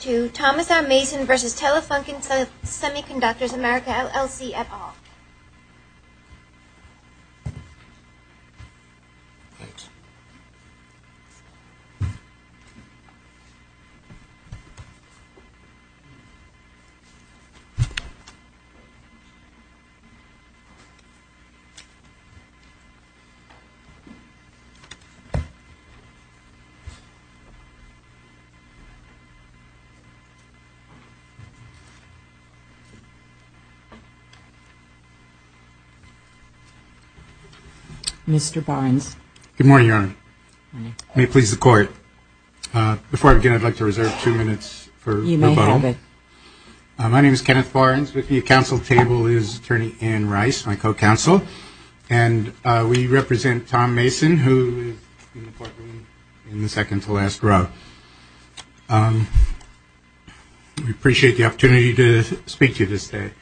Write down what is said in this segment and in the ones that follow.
to Thomas R. Mason v. Telefunken Semiconductors America, LLC, et al. Mr. Barnes. Good morning, Your Honor. May it please the Court. Before I begin, I'd like to reserve two minutes for rebuttal. You may have it. My name is Kenneth Barnes. With me at counsel's table is Attorney Ann Rice, my co-counsel. And we represent Tom Mason, who is in the second-to-last row. We appreciate the opportunity to speak to you this day.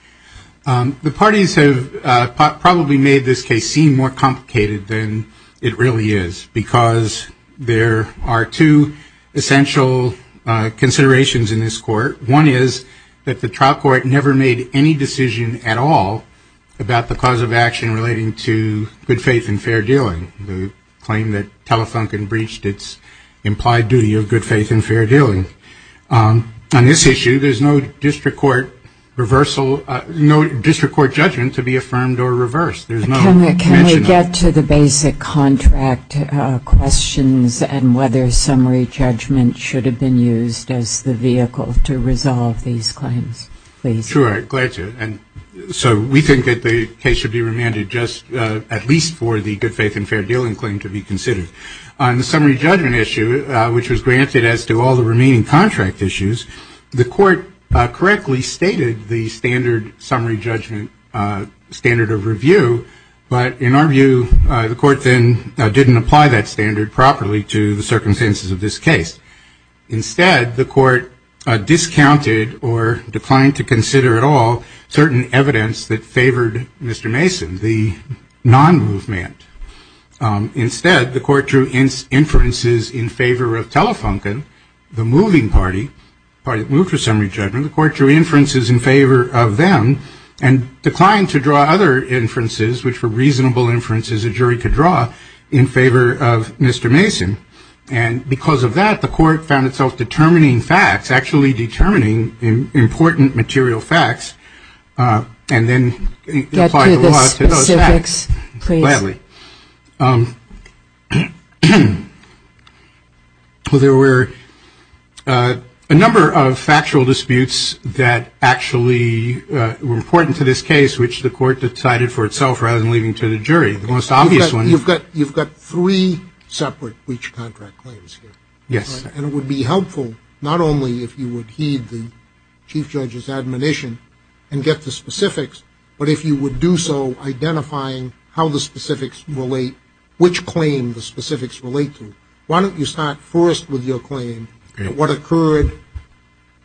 The parties have probably made this case seem more complicated than it really is, because there are two essential considerations in this court. One is that the trial court never made any decision at all about the cause of action relating to good faith and fair dealing, the claim that Telefunken breached its implied duty of good faith and fair dealing. On this issue, there is no district court judgment to be affirmed or reversed. Can we get to the basic contract questions and whether summary judgment should have been used as the vehicle to resolve these claims, please? Sure, glad to. So we think that the case should be remanded just at least for the good faith and fair dealing claim to be considered. On the summary judgment issue, which was granted as to all the remaining contract issues, the Court correctly stated the standard summary judgment standard of review. But in our view, the Court then didn't apply that standard properly to the circumstances of this case. Instead, the Court discounted or declined to consider at all certain evidence that favored Mr. Mason, the non-movement. Instead, the Court drew inferences in favor of Telefunken, the moving party, the party that moved for summary judgment. The Court drew inferences in favor of them and declined to draw other inferences, which were reasonable inferences a jury could draw, in favor of Mr. Mason. And because of that, the Court found itself determining facts, actually determining important material facts, and then applied the law to those facts. Get to the specifics, please. Gladly. Well, there were a number of factual disputes that actually were important to this case, which the Court decided for itself rather than leaving to the jury. The most obvious one... You've got three separate breach contract claims here. Yes. And it would be helpful not only if you would heed the Chief Judge's admonition and get the specifics, but if you would do so, identifying how the specifics relate, which claim the specifics relate to. Why don't you start first with your claim that what occurred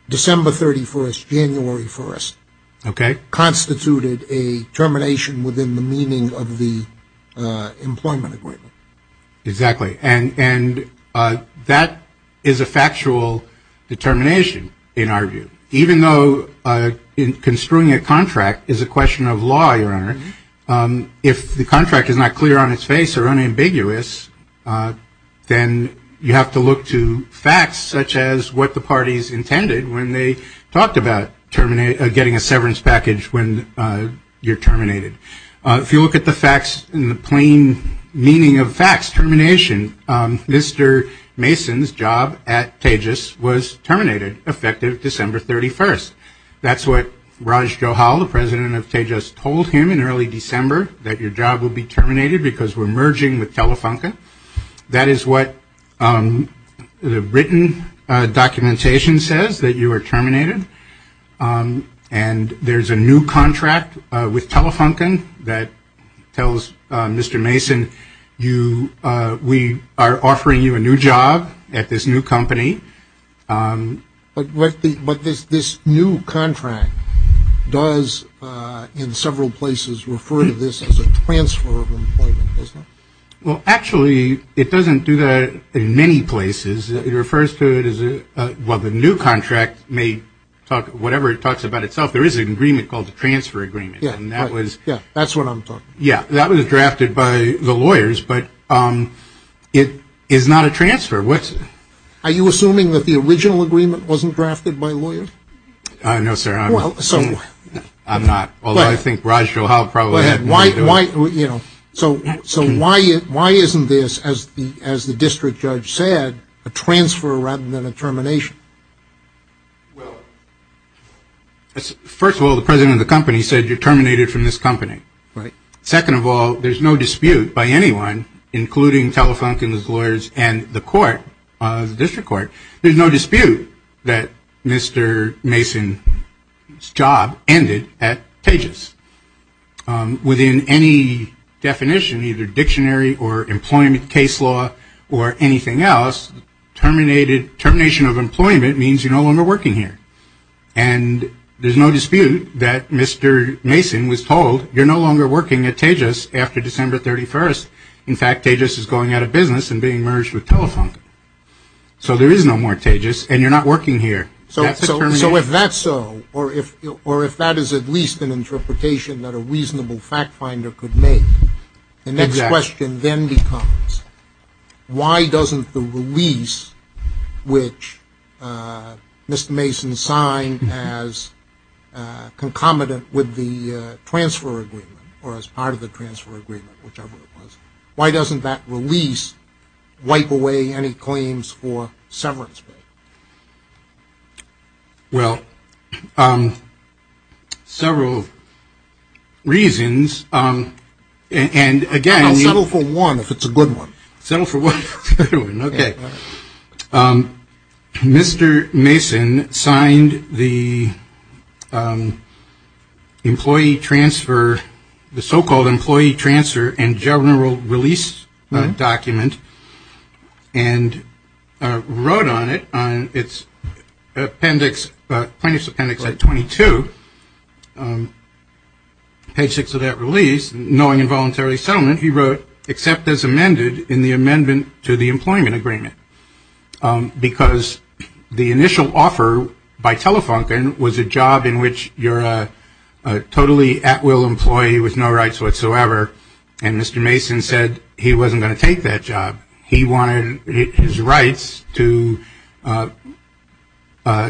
December 31st, January 1st... Okay. ...constituted a termination within the meaning of the employment agreement. Exactly. And that is a factual determination, in our view. Even though construing a contract is a question of law, Your Honor, if the contract is not clear on its face or unambiguous, then you have to look to facts, such as what the parties intended when they talked about getting a severance package when you're terminated. If you look at the facts in the plain meaning of facts, termination, Mr. Mason's job at Tejas was terminated, effective December 31st. That's what Raj Johal, the president of Tejas, told him in early December, that your job will be terminated because we're merging with Telefunka. That is what the written documentation says, that you are terminated. And there's a new contract with Telefunken that tells Mr. Mason, we are offering you a new job at this new company. But this new contract does, in several places, refer to this as a transfer of employment, doesn't it? Well, actually, it doesn't do that in many places. It refers to it as, well, the new contract, whatever it talks about itself, there is an agreement called the transfer agreement. Yeah, that's what I'm talking about. Yeah, that was drafted by the lawyers, but it is not a transfer. Are you assuming that the original agreement wasn't drafted by lawyers? No, sir, I'm not. Although I think Raj Johal probably had. Why, you know, so why isn't this, as the district judge said, a transfer rather than a termination? Well, first of all, the president of the company said you're terminated from this company. Right. Second of all, there's no dispute by anyone, including Telefunken's lawyers and the court, the district court, there's no dispute that in any definition, either dictionary or employment case law or anything else, termination of employment means you're no longer working here. And there's no dispute that Mr. Mason was told you're no longer working at Tejas after December 31st. In fact, Tejas is going out of business and being merged with Telefunken. So there is no more Tejas and you're not working here. So if that's so, or if that is at least an interpretation that a reasonable fact finder could make, the next question then becomes why doesn't the release which Mr. Mason signed as concomitant with the transfer agreement or as part of the transfer agreement, whichever it was, why doesn't that release wipe away any claims for severance pay? Well, several reasons. And again, I'll settle for one if it's a good one. Settle for one. Okay. Mr. Mason signed the employee transfer, the so-called employee transfer and general release document and wrote on it, on its appendix, plaintiff's appendix at 22, page six of that release, knowing involuntary settlement, he wrote, except as amended in the amendment to the employment agreement. Because the initial offer by Telefunken was a job in which you're a totally at will employee with no rights whatsoever. And Mr. Mason said he wasn't going to take that job. He wanted his rights to the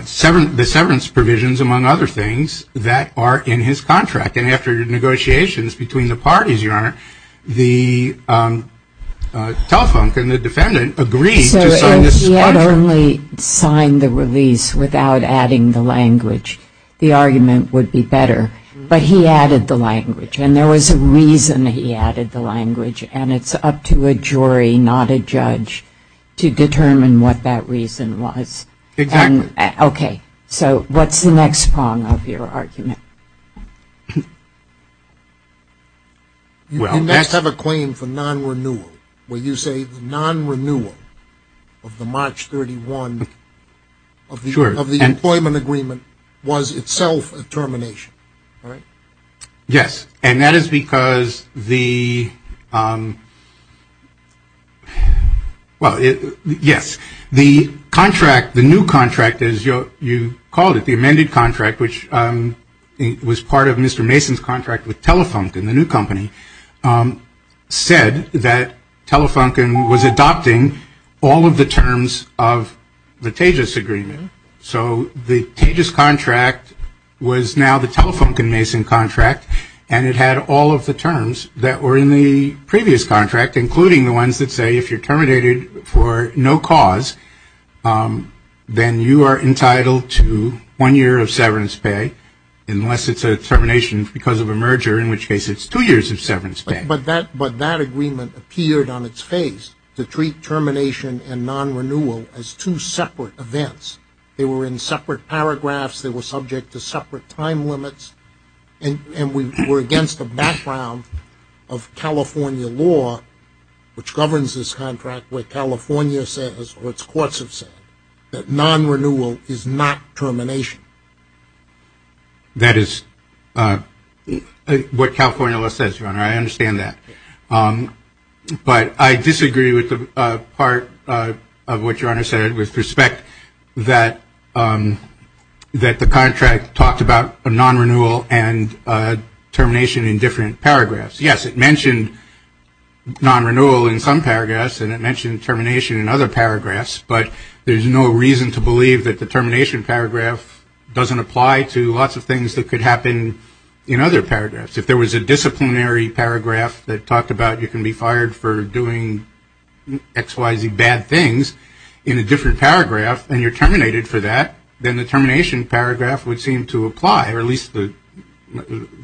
severance provisions, among other things, that are in his contract. And after negotiations between the parties, Your Honor, the Telefunken, the defendant, agreed to sign this contract. So he had only signed the release without adding the language. The argument would be better, but he added the language and there was a reason he added the language and it's up to a jury, not a judge, to determine what that reason was. Exactly. Okay. So what's the next prong of your argument? You must have a claim for non-renewal, where you say the non-renewal of the March 31 of the employment agreement was itself a termination, right? Yes. And that is because the, well, yes, the contract, the new contract, as you called it, the amended contract, which was part of Mr. Mason's contract with Telefunken, the new company, said that Telefunken was adopting all of the terms of the Tejas agreement. So the Tejas contract was now the Telefunken-Mason contract and it had all of the terms that were in the previous contract, including the ones that say if you're terminated for no cause, then you are entitled to one year of severance pay, unless it's a termination because of a merger, in which case it's two years of severance pay. But that agreement appeared on its face to treat termination and non-renewal as two separate events. They were in separate paragraphs, they were subject to separate time limits, and we were against the background of California law, which governs this contract, where California says, or its courts have said, that non-renewal is not termination. That is what California law says, Your Honor, I understand that. But I disagree with the part of what Your Honor said with respect that the contract talked about non-renewal and termination in different paragraphs. Yes, it mentioned non-renewal in some paragraphs and it mentioned termination in other paragraphs, but there's no reason to believe that the termination paragraph doesn't apply to lots of things that could happen in other paragraphs. If there was a disciplinary paragraph that talked about you can be fired for doing X, Y, Z bad things in a different paragraph and you're terminated for that, then the termination paragraph would seem to apply, or at least the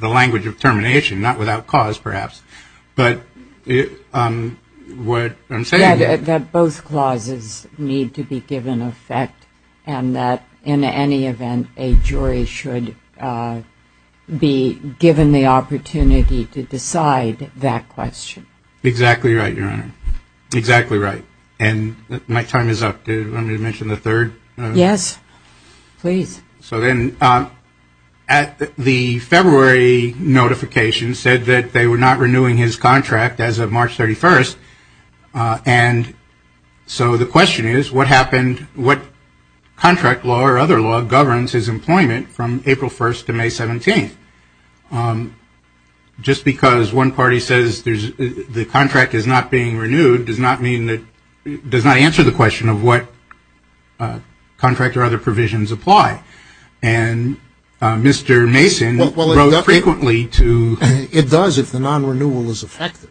language of termination, not without cause, perhaps. But what I'm saying is that both clauses need to be given effect and that in any event, a jury should be given the opportunity to decide that question. Exactly right, Your Honor. Exactly right. And my time is up. Do you want me to mention the third? Yes, please. So then at the February notification said that they were not renewing his contract as of March 31st, and so the question is what happened, what contract law or other law governs his employment from April 1st to May 17th? Just because one party says the contract is not being renewed, contract or other provisions apply. And Mr. Mason wrote frequently to... It does if the non-renewal is effective.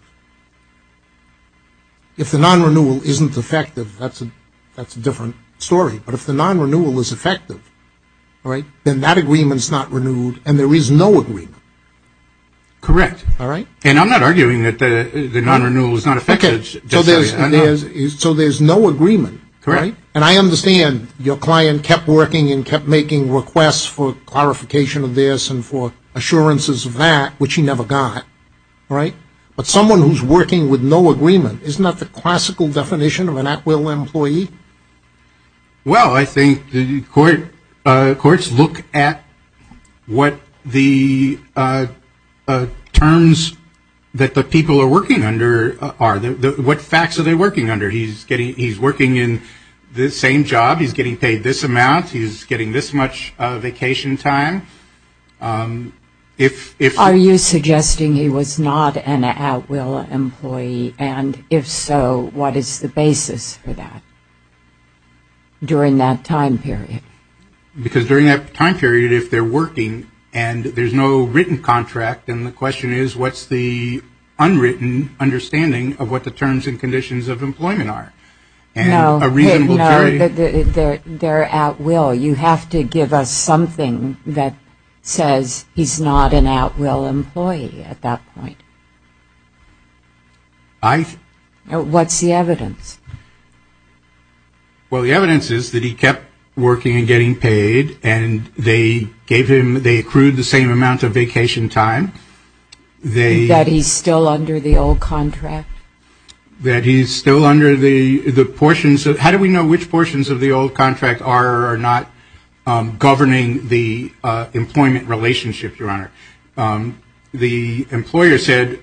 If the non-renewal isn't effective, that's a different story. But if the non-renewal is effective, then that agreement is not renewed and there is no agreement. Correct. And I'm not arguing that the non-renewal is not effective. Okay, so there's no agreement. Correct. And I understand your client kept working and kept making requests for clarification of this and for assurances of that, which he never got, right? But someone who's working with no agreement, isn't that the classical definition of an at-will employee? Well, I think the courts look at what the terms that the people are working under are. What facts are they working under? He's working in the same job. He's getting paid this amount. He's getting this much vacation time. Are you suggesting he was not an at-will employee? And if so, what is the basis for that during that time period? Because during that time period, if they're working and there's no written contract, then the question is what's the understanding of what the terms and conditions of employment are? No, they're at-will. You have to give us something that says he's not an at-will employee at that point. What's the evidence? Well, the evidence is that he kept working and getting paid and they accrued the same amount of vacation time. That he's still under the old contract? That he's still under the portions of, how do we know which portions of the old contract are or are not governing the employment relationship, Your Honor? The employer said,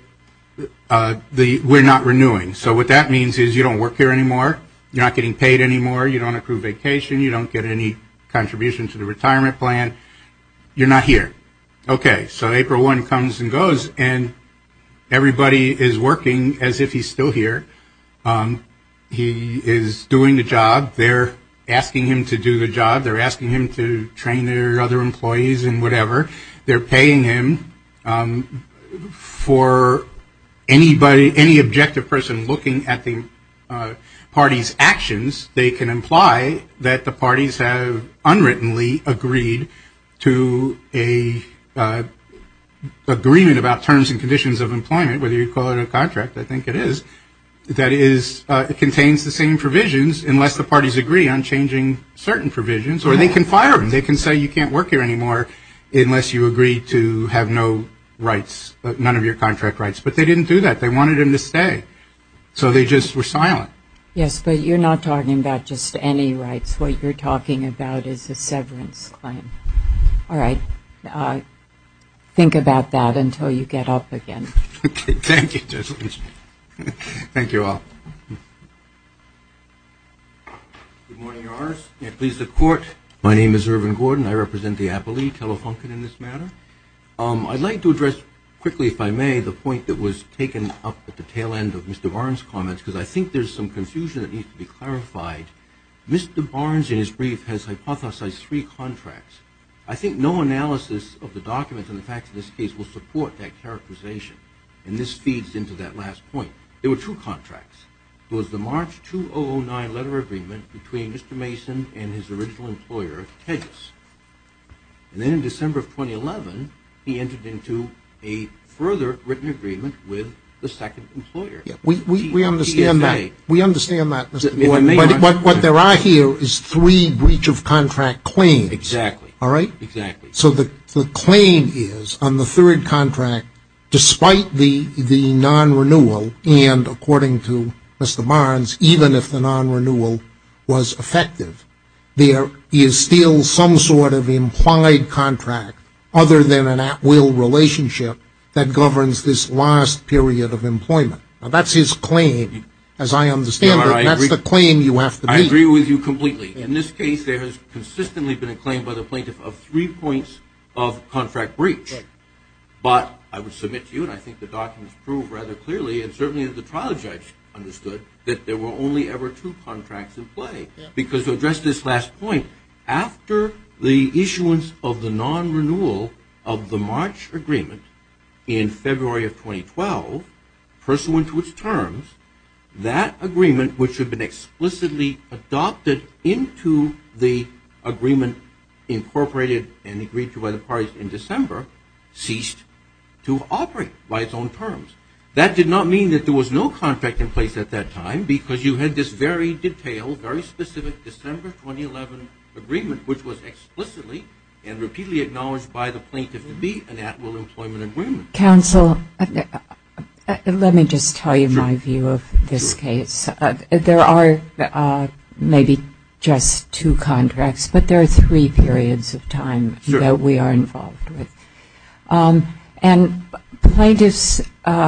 we're not renewing. So what that means is you don't work here anymore. You're not getting paid anymore. You don't accrue vacation. You don't get any Okay, so April 1 comes and goes and everybody is working as if he's still here. He is doing the job. They're asking him to do the job. They're asking him to train their other employees and whatever. They're paying him. For anybody, any objective person looking at the party's actions, they can that the parties have unwrittenly agreed to a agreement about terms and conditions of employment, whether you call it a contract. I think it is. That is, it contains the same provisions unless the parties agree on changing certain provisions or they can fire him. They can say you can't work here anymore unless you agree to have no rights, none of your contract rights. But they didn't do that. They wanted him to stay. So they just were silent. Yes, but you're not talking about just any rights. What you're talking about is a severance claim. All right. Think about that until you get up again. Okay. Thank you. Thank you all. Good morning, Your Honor. Please, the court. My name is Irvin Gordon. I represent the Appalachee Telefunken in this matter. I'd like to address quickly, if I may, the point that was taken up at the tail end of Mr. Barnes' comments, because I think there's some confusion that needs to be clarified. Mr. Barnes, in his brief, has hypothesized three contracts. I think no analysis of the documents and the facts of this case will support that characterization. And this feeds into that last point. There were two contracts. It was the March 2009 letter agreement between Mr. Mason and his original employer, Tejas. And then in December of 2011, he entered into a further written agreement with the second employer. We understand that. We understand that. What there are here is three breach of contract claims. Exactly. All right. Exactly. So the claim is on the third contract, despite the non-renewal, and according to Mr. Barnes, even if the non-renewal was effective, there is still some sort of implied contract, other than an at-will relationship, that governs this last period of employment. Now that's his claim, as I understand it. And that's the claim you have to meet. I agree with you completely. In this case, there has consistently been a claim by the plaintiff of three points of contract breach. But I would submit to you, and I think the documents prove rather clearly, and certainly the trial judge understood, that there were only two contracts in play. Because to address this last point, after the issuance of the non-renewal of the March agreement in February of 2012, pursuant to its terms, that agreement, which had been explicitly adopted into the agreement incorporated and agreed to by the parties in December, ceased to operate by its own terms. That did not mean that there was no contract in place at that time, because you had this very detailed, very specific December 2011 agreement, which was explicitly and repeatedly acknowledged by the plaintiff to be an at-will employment agreement. Counsel, let me just tell you my view of this case. There are maybe just two contracts, but there are three periods of time that we are involved with. And plaintiff's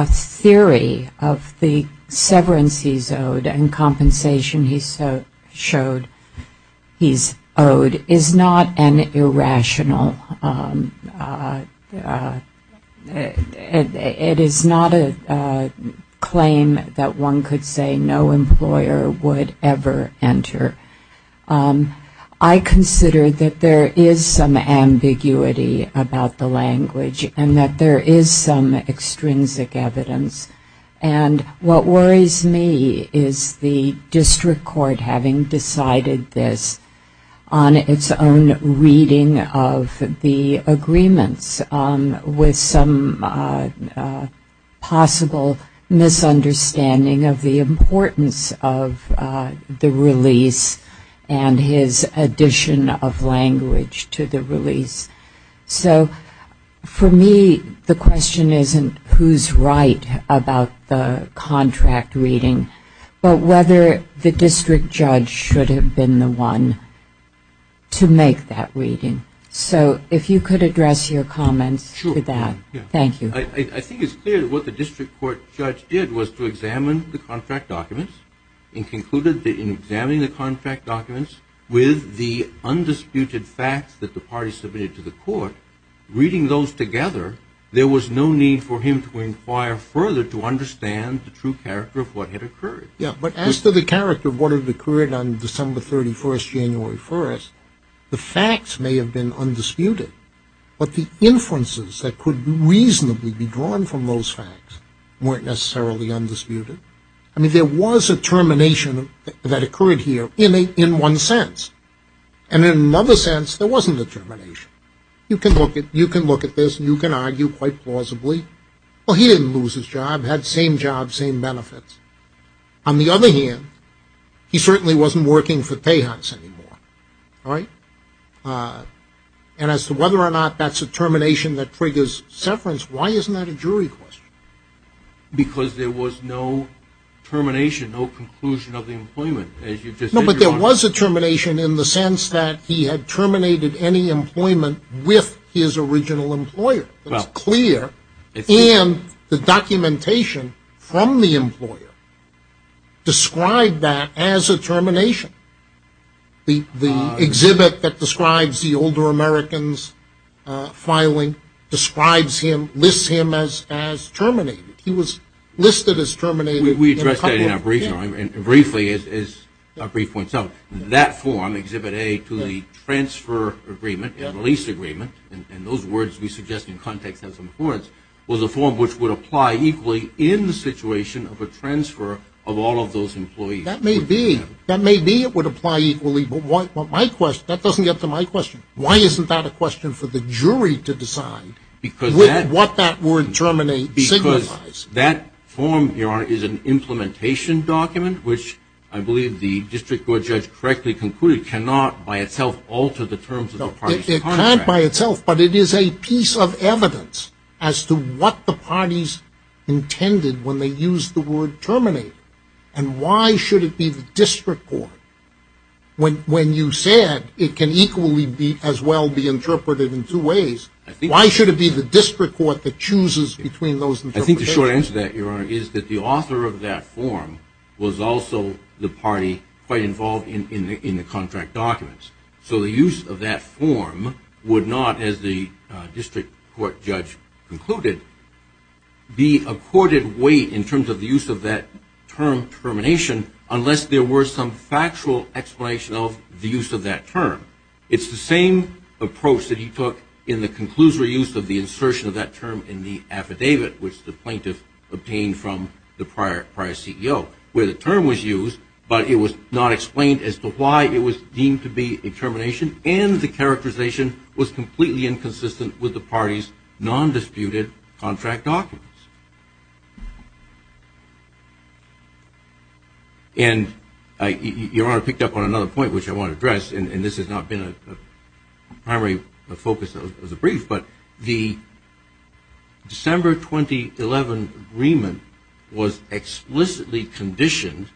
theory of the severance he's owed and compensation he's owed is not an irrational it is not a claim that one could say no employer would ever enter. I consider that there is some extrinsic evidence. And what worries me is the district court having decided this on its own reading of the agreements with some possible misunderstanding of the importance of the release and his addition of language to the release. So for me the question isn't who's right about the contract reading, but whether the district judge should have been the one to make that reading. So if you could address your comments to that. Thank you. I think it's what the district court judge did was to examine the contract documents and concluded that in examining the contract documents with the undisputed facts that the party submitted to the court, reading those together, there was no need for him to inquire further to understand the true character of what had occurred. Yeah, but as to the character of what had occurred on December 31st, January 1st, the facts may have been undisputed, but the inferences that could reasonably be drawn from those facts weren't necessarily undisputed. I mean there was a termination that occurred here in one sense, and in another sense there wasn't a termination. You can look at this and you can argue quite plausibly, well he didn't lose his job, had same job, same benefits. On the other hand, he certainly wasn't working for Tejas anymore, right? And as to whether or not that's a jury question. Because there was no termination, no conclusion of the employment, as you just said. No, but there was a termination in the sense that he had terminated any employment with his original employer. It's clear, and the documentation from the employer described that as a termination. The exhibit that describes the older American's filing describes him, lists him as terminated. He was listed as terminated. We addressed that in our briefing, and briefly as our brief points out, that form, exhibit A to the transfer agreement and lease agreement, and those words we suggest in context have some importance, was a form which would apply equally in the situation of a transfer of all of those employees. That may be, that may be it would apply equally, but what my question, that doesn't get to my question. Why isn't that a question for the jury to decide what that word terminate signifies? Because that form, your honor, is an implementation document, which I believe the district court judge correctly concluded cannot by itself alter the terms of the parties contract. It can't by itself, but it is a piece of evidence as to what the parties intended when they used the word terminate. And why should it be the district court, when you said it can equally be as well be interpreted in two ways, why should it be the district court that chooses between those interpretations? I think the short answer to that, your honor, is that the author of that form was also the party quite involved in the contract documents. So the use of that form would not, as the district court judge concluded, be accorded weight in terms of the use of that term termination unless there were some It's the same approach that he took in the conclusory use of the insertion of that term in the affidavit, which the plaintiff obtained from the prior CEO, where the term was used, but it was not explained as to why it was deemed to be a termination and the characterization was completely inconsistent with the parties non-disputed contract documents. And your honor picked up on another point, which I want to address, and this has not been a primary focus of the brief, but the December 2011 agreement was explicitly conditioned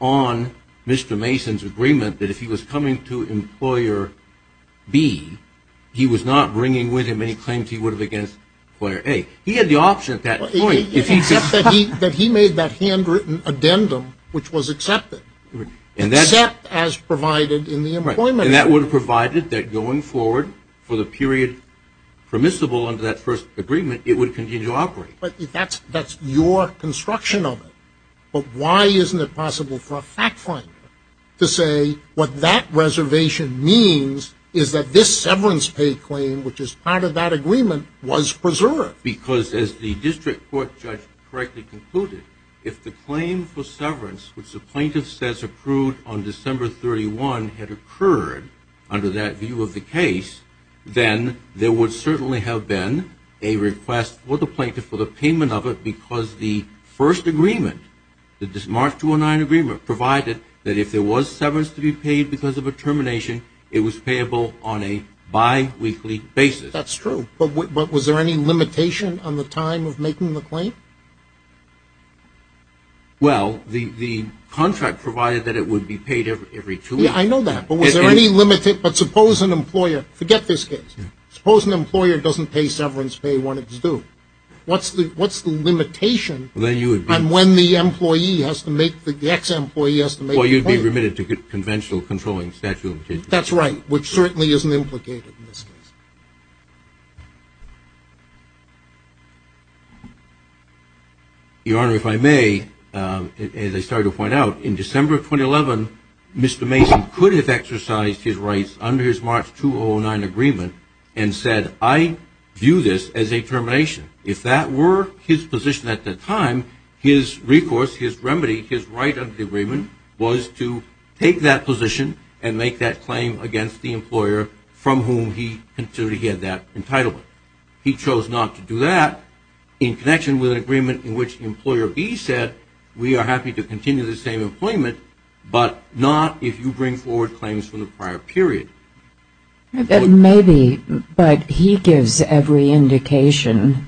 on Mr. Mason's agreement that if he was coming to employer B, he was not Except that he made that handwritten addendum, which was accepted. Except as provided in the employment agreement. And that would have provided that going forward for the period permissible under that first agreement, it would continue to operate. But that's your construction of it. But why isn't it possible for a fact finder to say what that reservation means is that this court judge correctly concluded, if the claim for severance, which the plaintiff says approved on December 31, had occurred under that view of the case, then there would certainly have been a request for the plaintiff for the payment of it because the first agreement, the March 2009 agreement, provided that if there was severance to be paid because of a termination, it was payable on a biweekly basis. That's true. But was there any limitation on the time of making the claim? Well, the contract provided that it would be paid every two weeks. I know that. But was there any limit? But suppose an employer, forget this case, suppose an employer doesn't pay severance pay when it's due. What's the limitation on when the employee has to make, the ex-employee has to make the claim? Conventional controlling statute. That's right, which certainly isn't implicated in this case. Your Honor, if I may, as I started to point out, in December 2011, Mr. Mason could have exercised his rights under his March 2009 agreement and said, I view this as a termination. If that were his position at the time, his recourse, his remedy, his right under the agreement was to take that position and make that claim against the employer from whom he considered he had that entitlement. He chose not to do that in connection with an agreement in which Employer B said, we are happy to continue the same employment, but not if you bring forward claims from the prior period. Maybe, but he gives every indication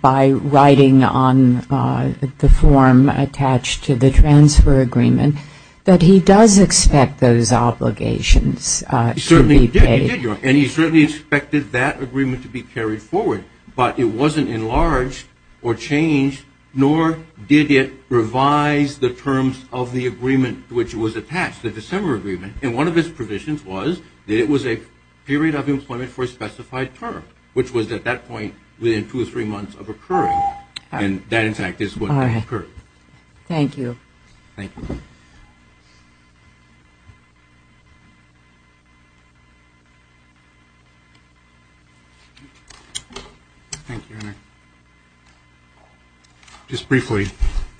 by writing on the form attached to the transfer agreement that he does expect those obligations to be paid. He certainly did, Your Honor, and he certainly expected that agreement to be carried forward, but it wasn't enlarged or changed, nor did it revise the terms of the past. The December agreement, in one of its provisions, was that it was a period of employment for a specified term, which was at that point within two or three months of occurring, and that, in fact, is what occurred. Thank you. Thank you. Thank you, Your Honor. Just briefly,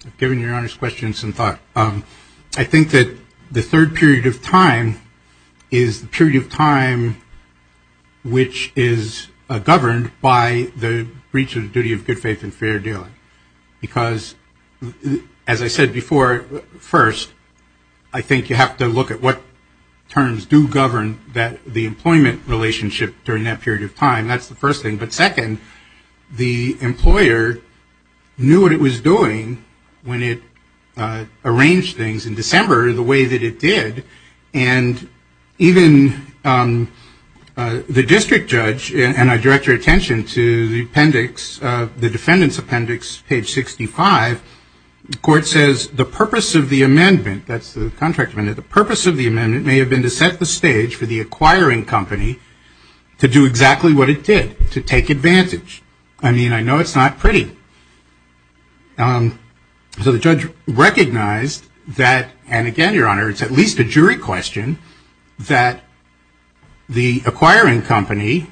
I've given Your Honor's question some thought. I think that the third period of time is the period of time which is governed by the breach of the duty of good faith and fair dealing. Because, as I said before, first, I think you have to look at what terms do govern the employment relationship during that period of time. That's the first thing. But second, the employer knew what it was doing when it arranged things in December the way that it did, and even the district judge, and I direct your attention to the appendix, the defendant's appendix, page 65, the court says, the purpose of the amendment, that's the contract amendment, the purpose of the amendment may have been to set the stage for the acquiring company to do exactly what it did, to take advantage. I mean, I know it's not pretty. So the judge recognized that, and again, Your Honor, it's at least a jury question, that the acquiring company,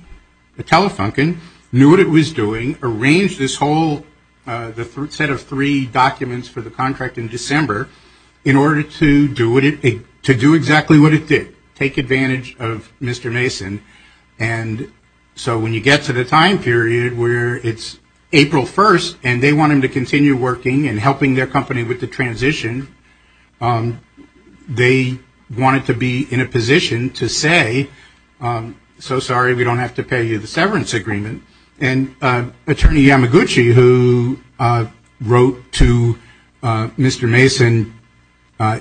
the Telefunken, knew what it was doing, arranged this whole set of three documents for the contract in December in order to do exactly what it did, take advantage of Mr. Mason. And so when you get to the time period where it's April 1st, and they want him to continue working and helping their company with the transition, they wanted to be in a position to say, so sorry, we don't have to pay you the severance agreement. And Attorney Yamaguchi, who wrote to Mr. Mason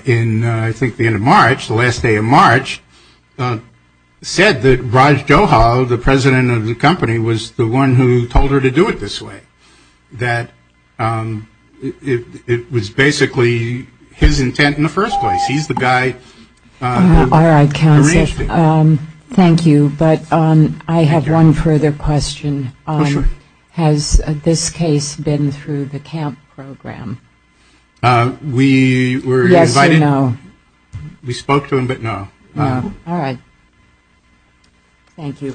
in, I think, the end of March, the last day of March, said that Raj Johal, the president of the company, was the one who told her to do it this way, that it was basically his intent in the first place. He's the guy who arranged it. All right, counsel. Thank you. But I have one further question. Has this case been through the CAMP program? We were invited. Yes or no? We spoke to him, but no. No. All right. Thank you.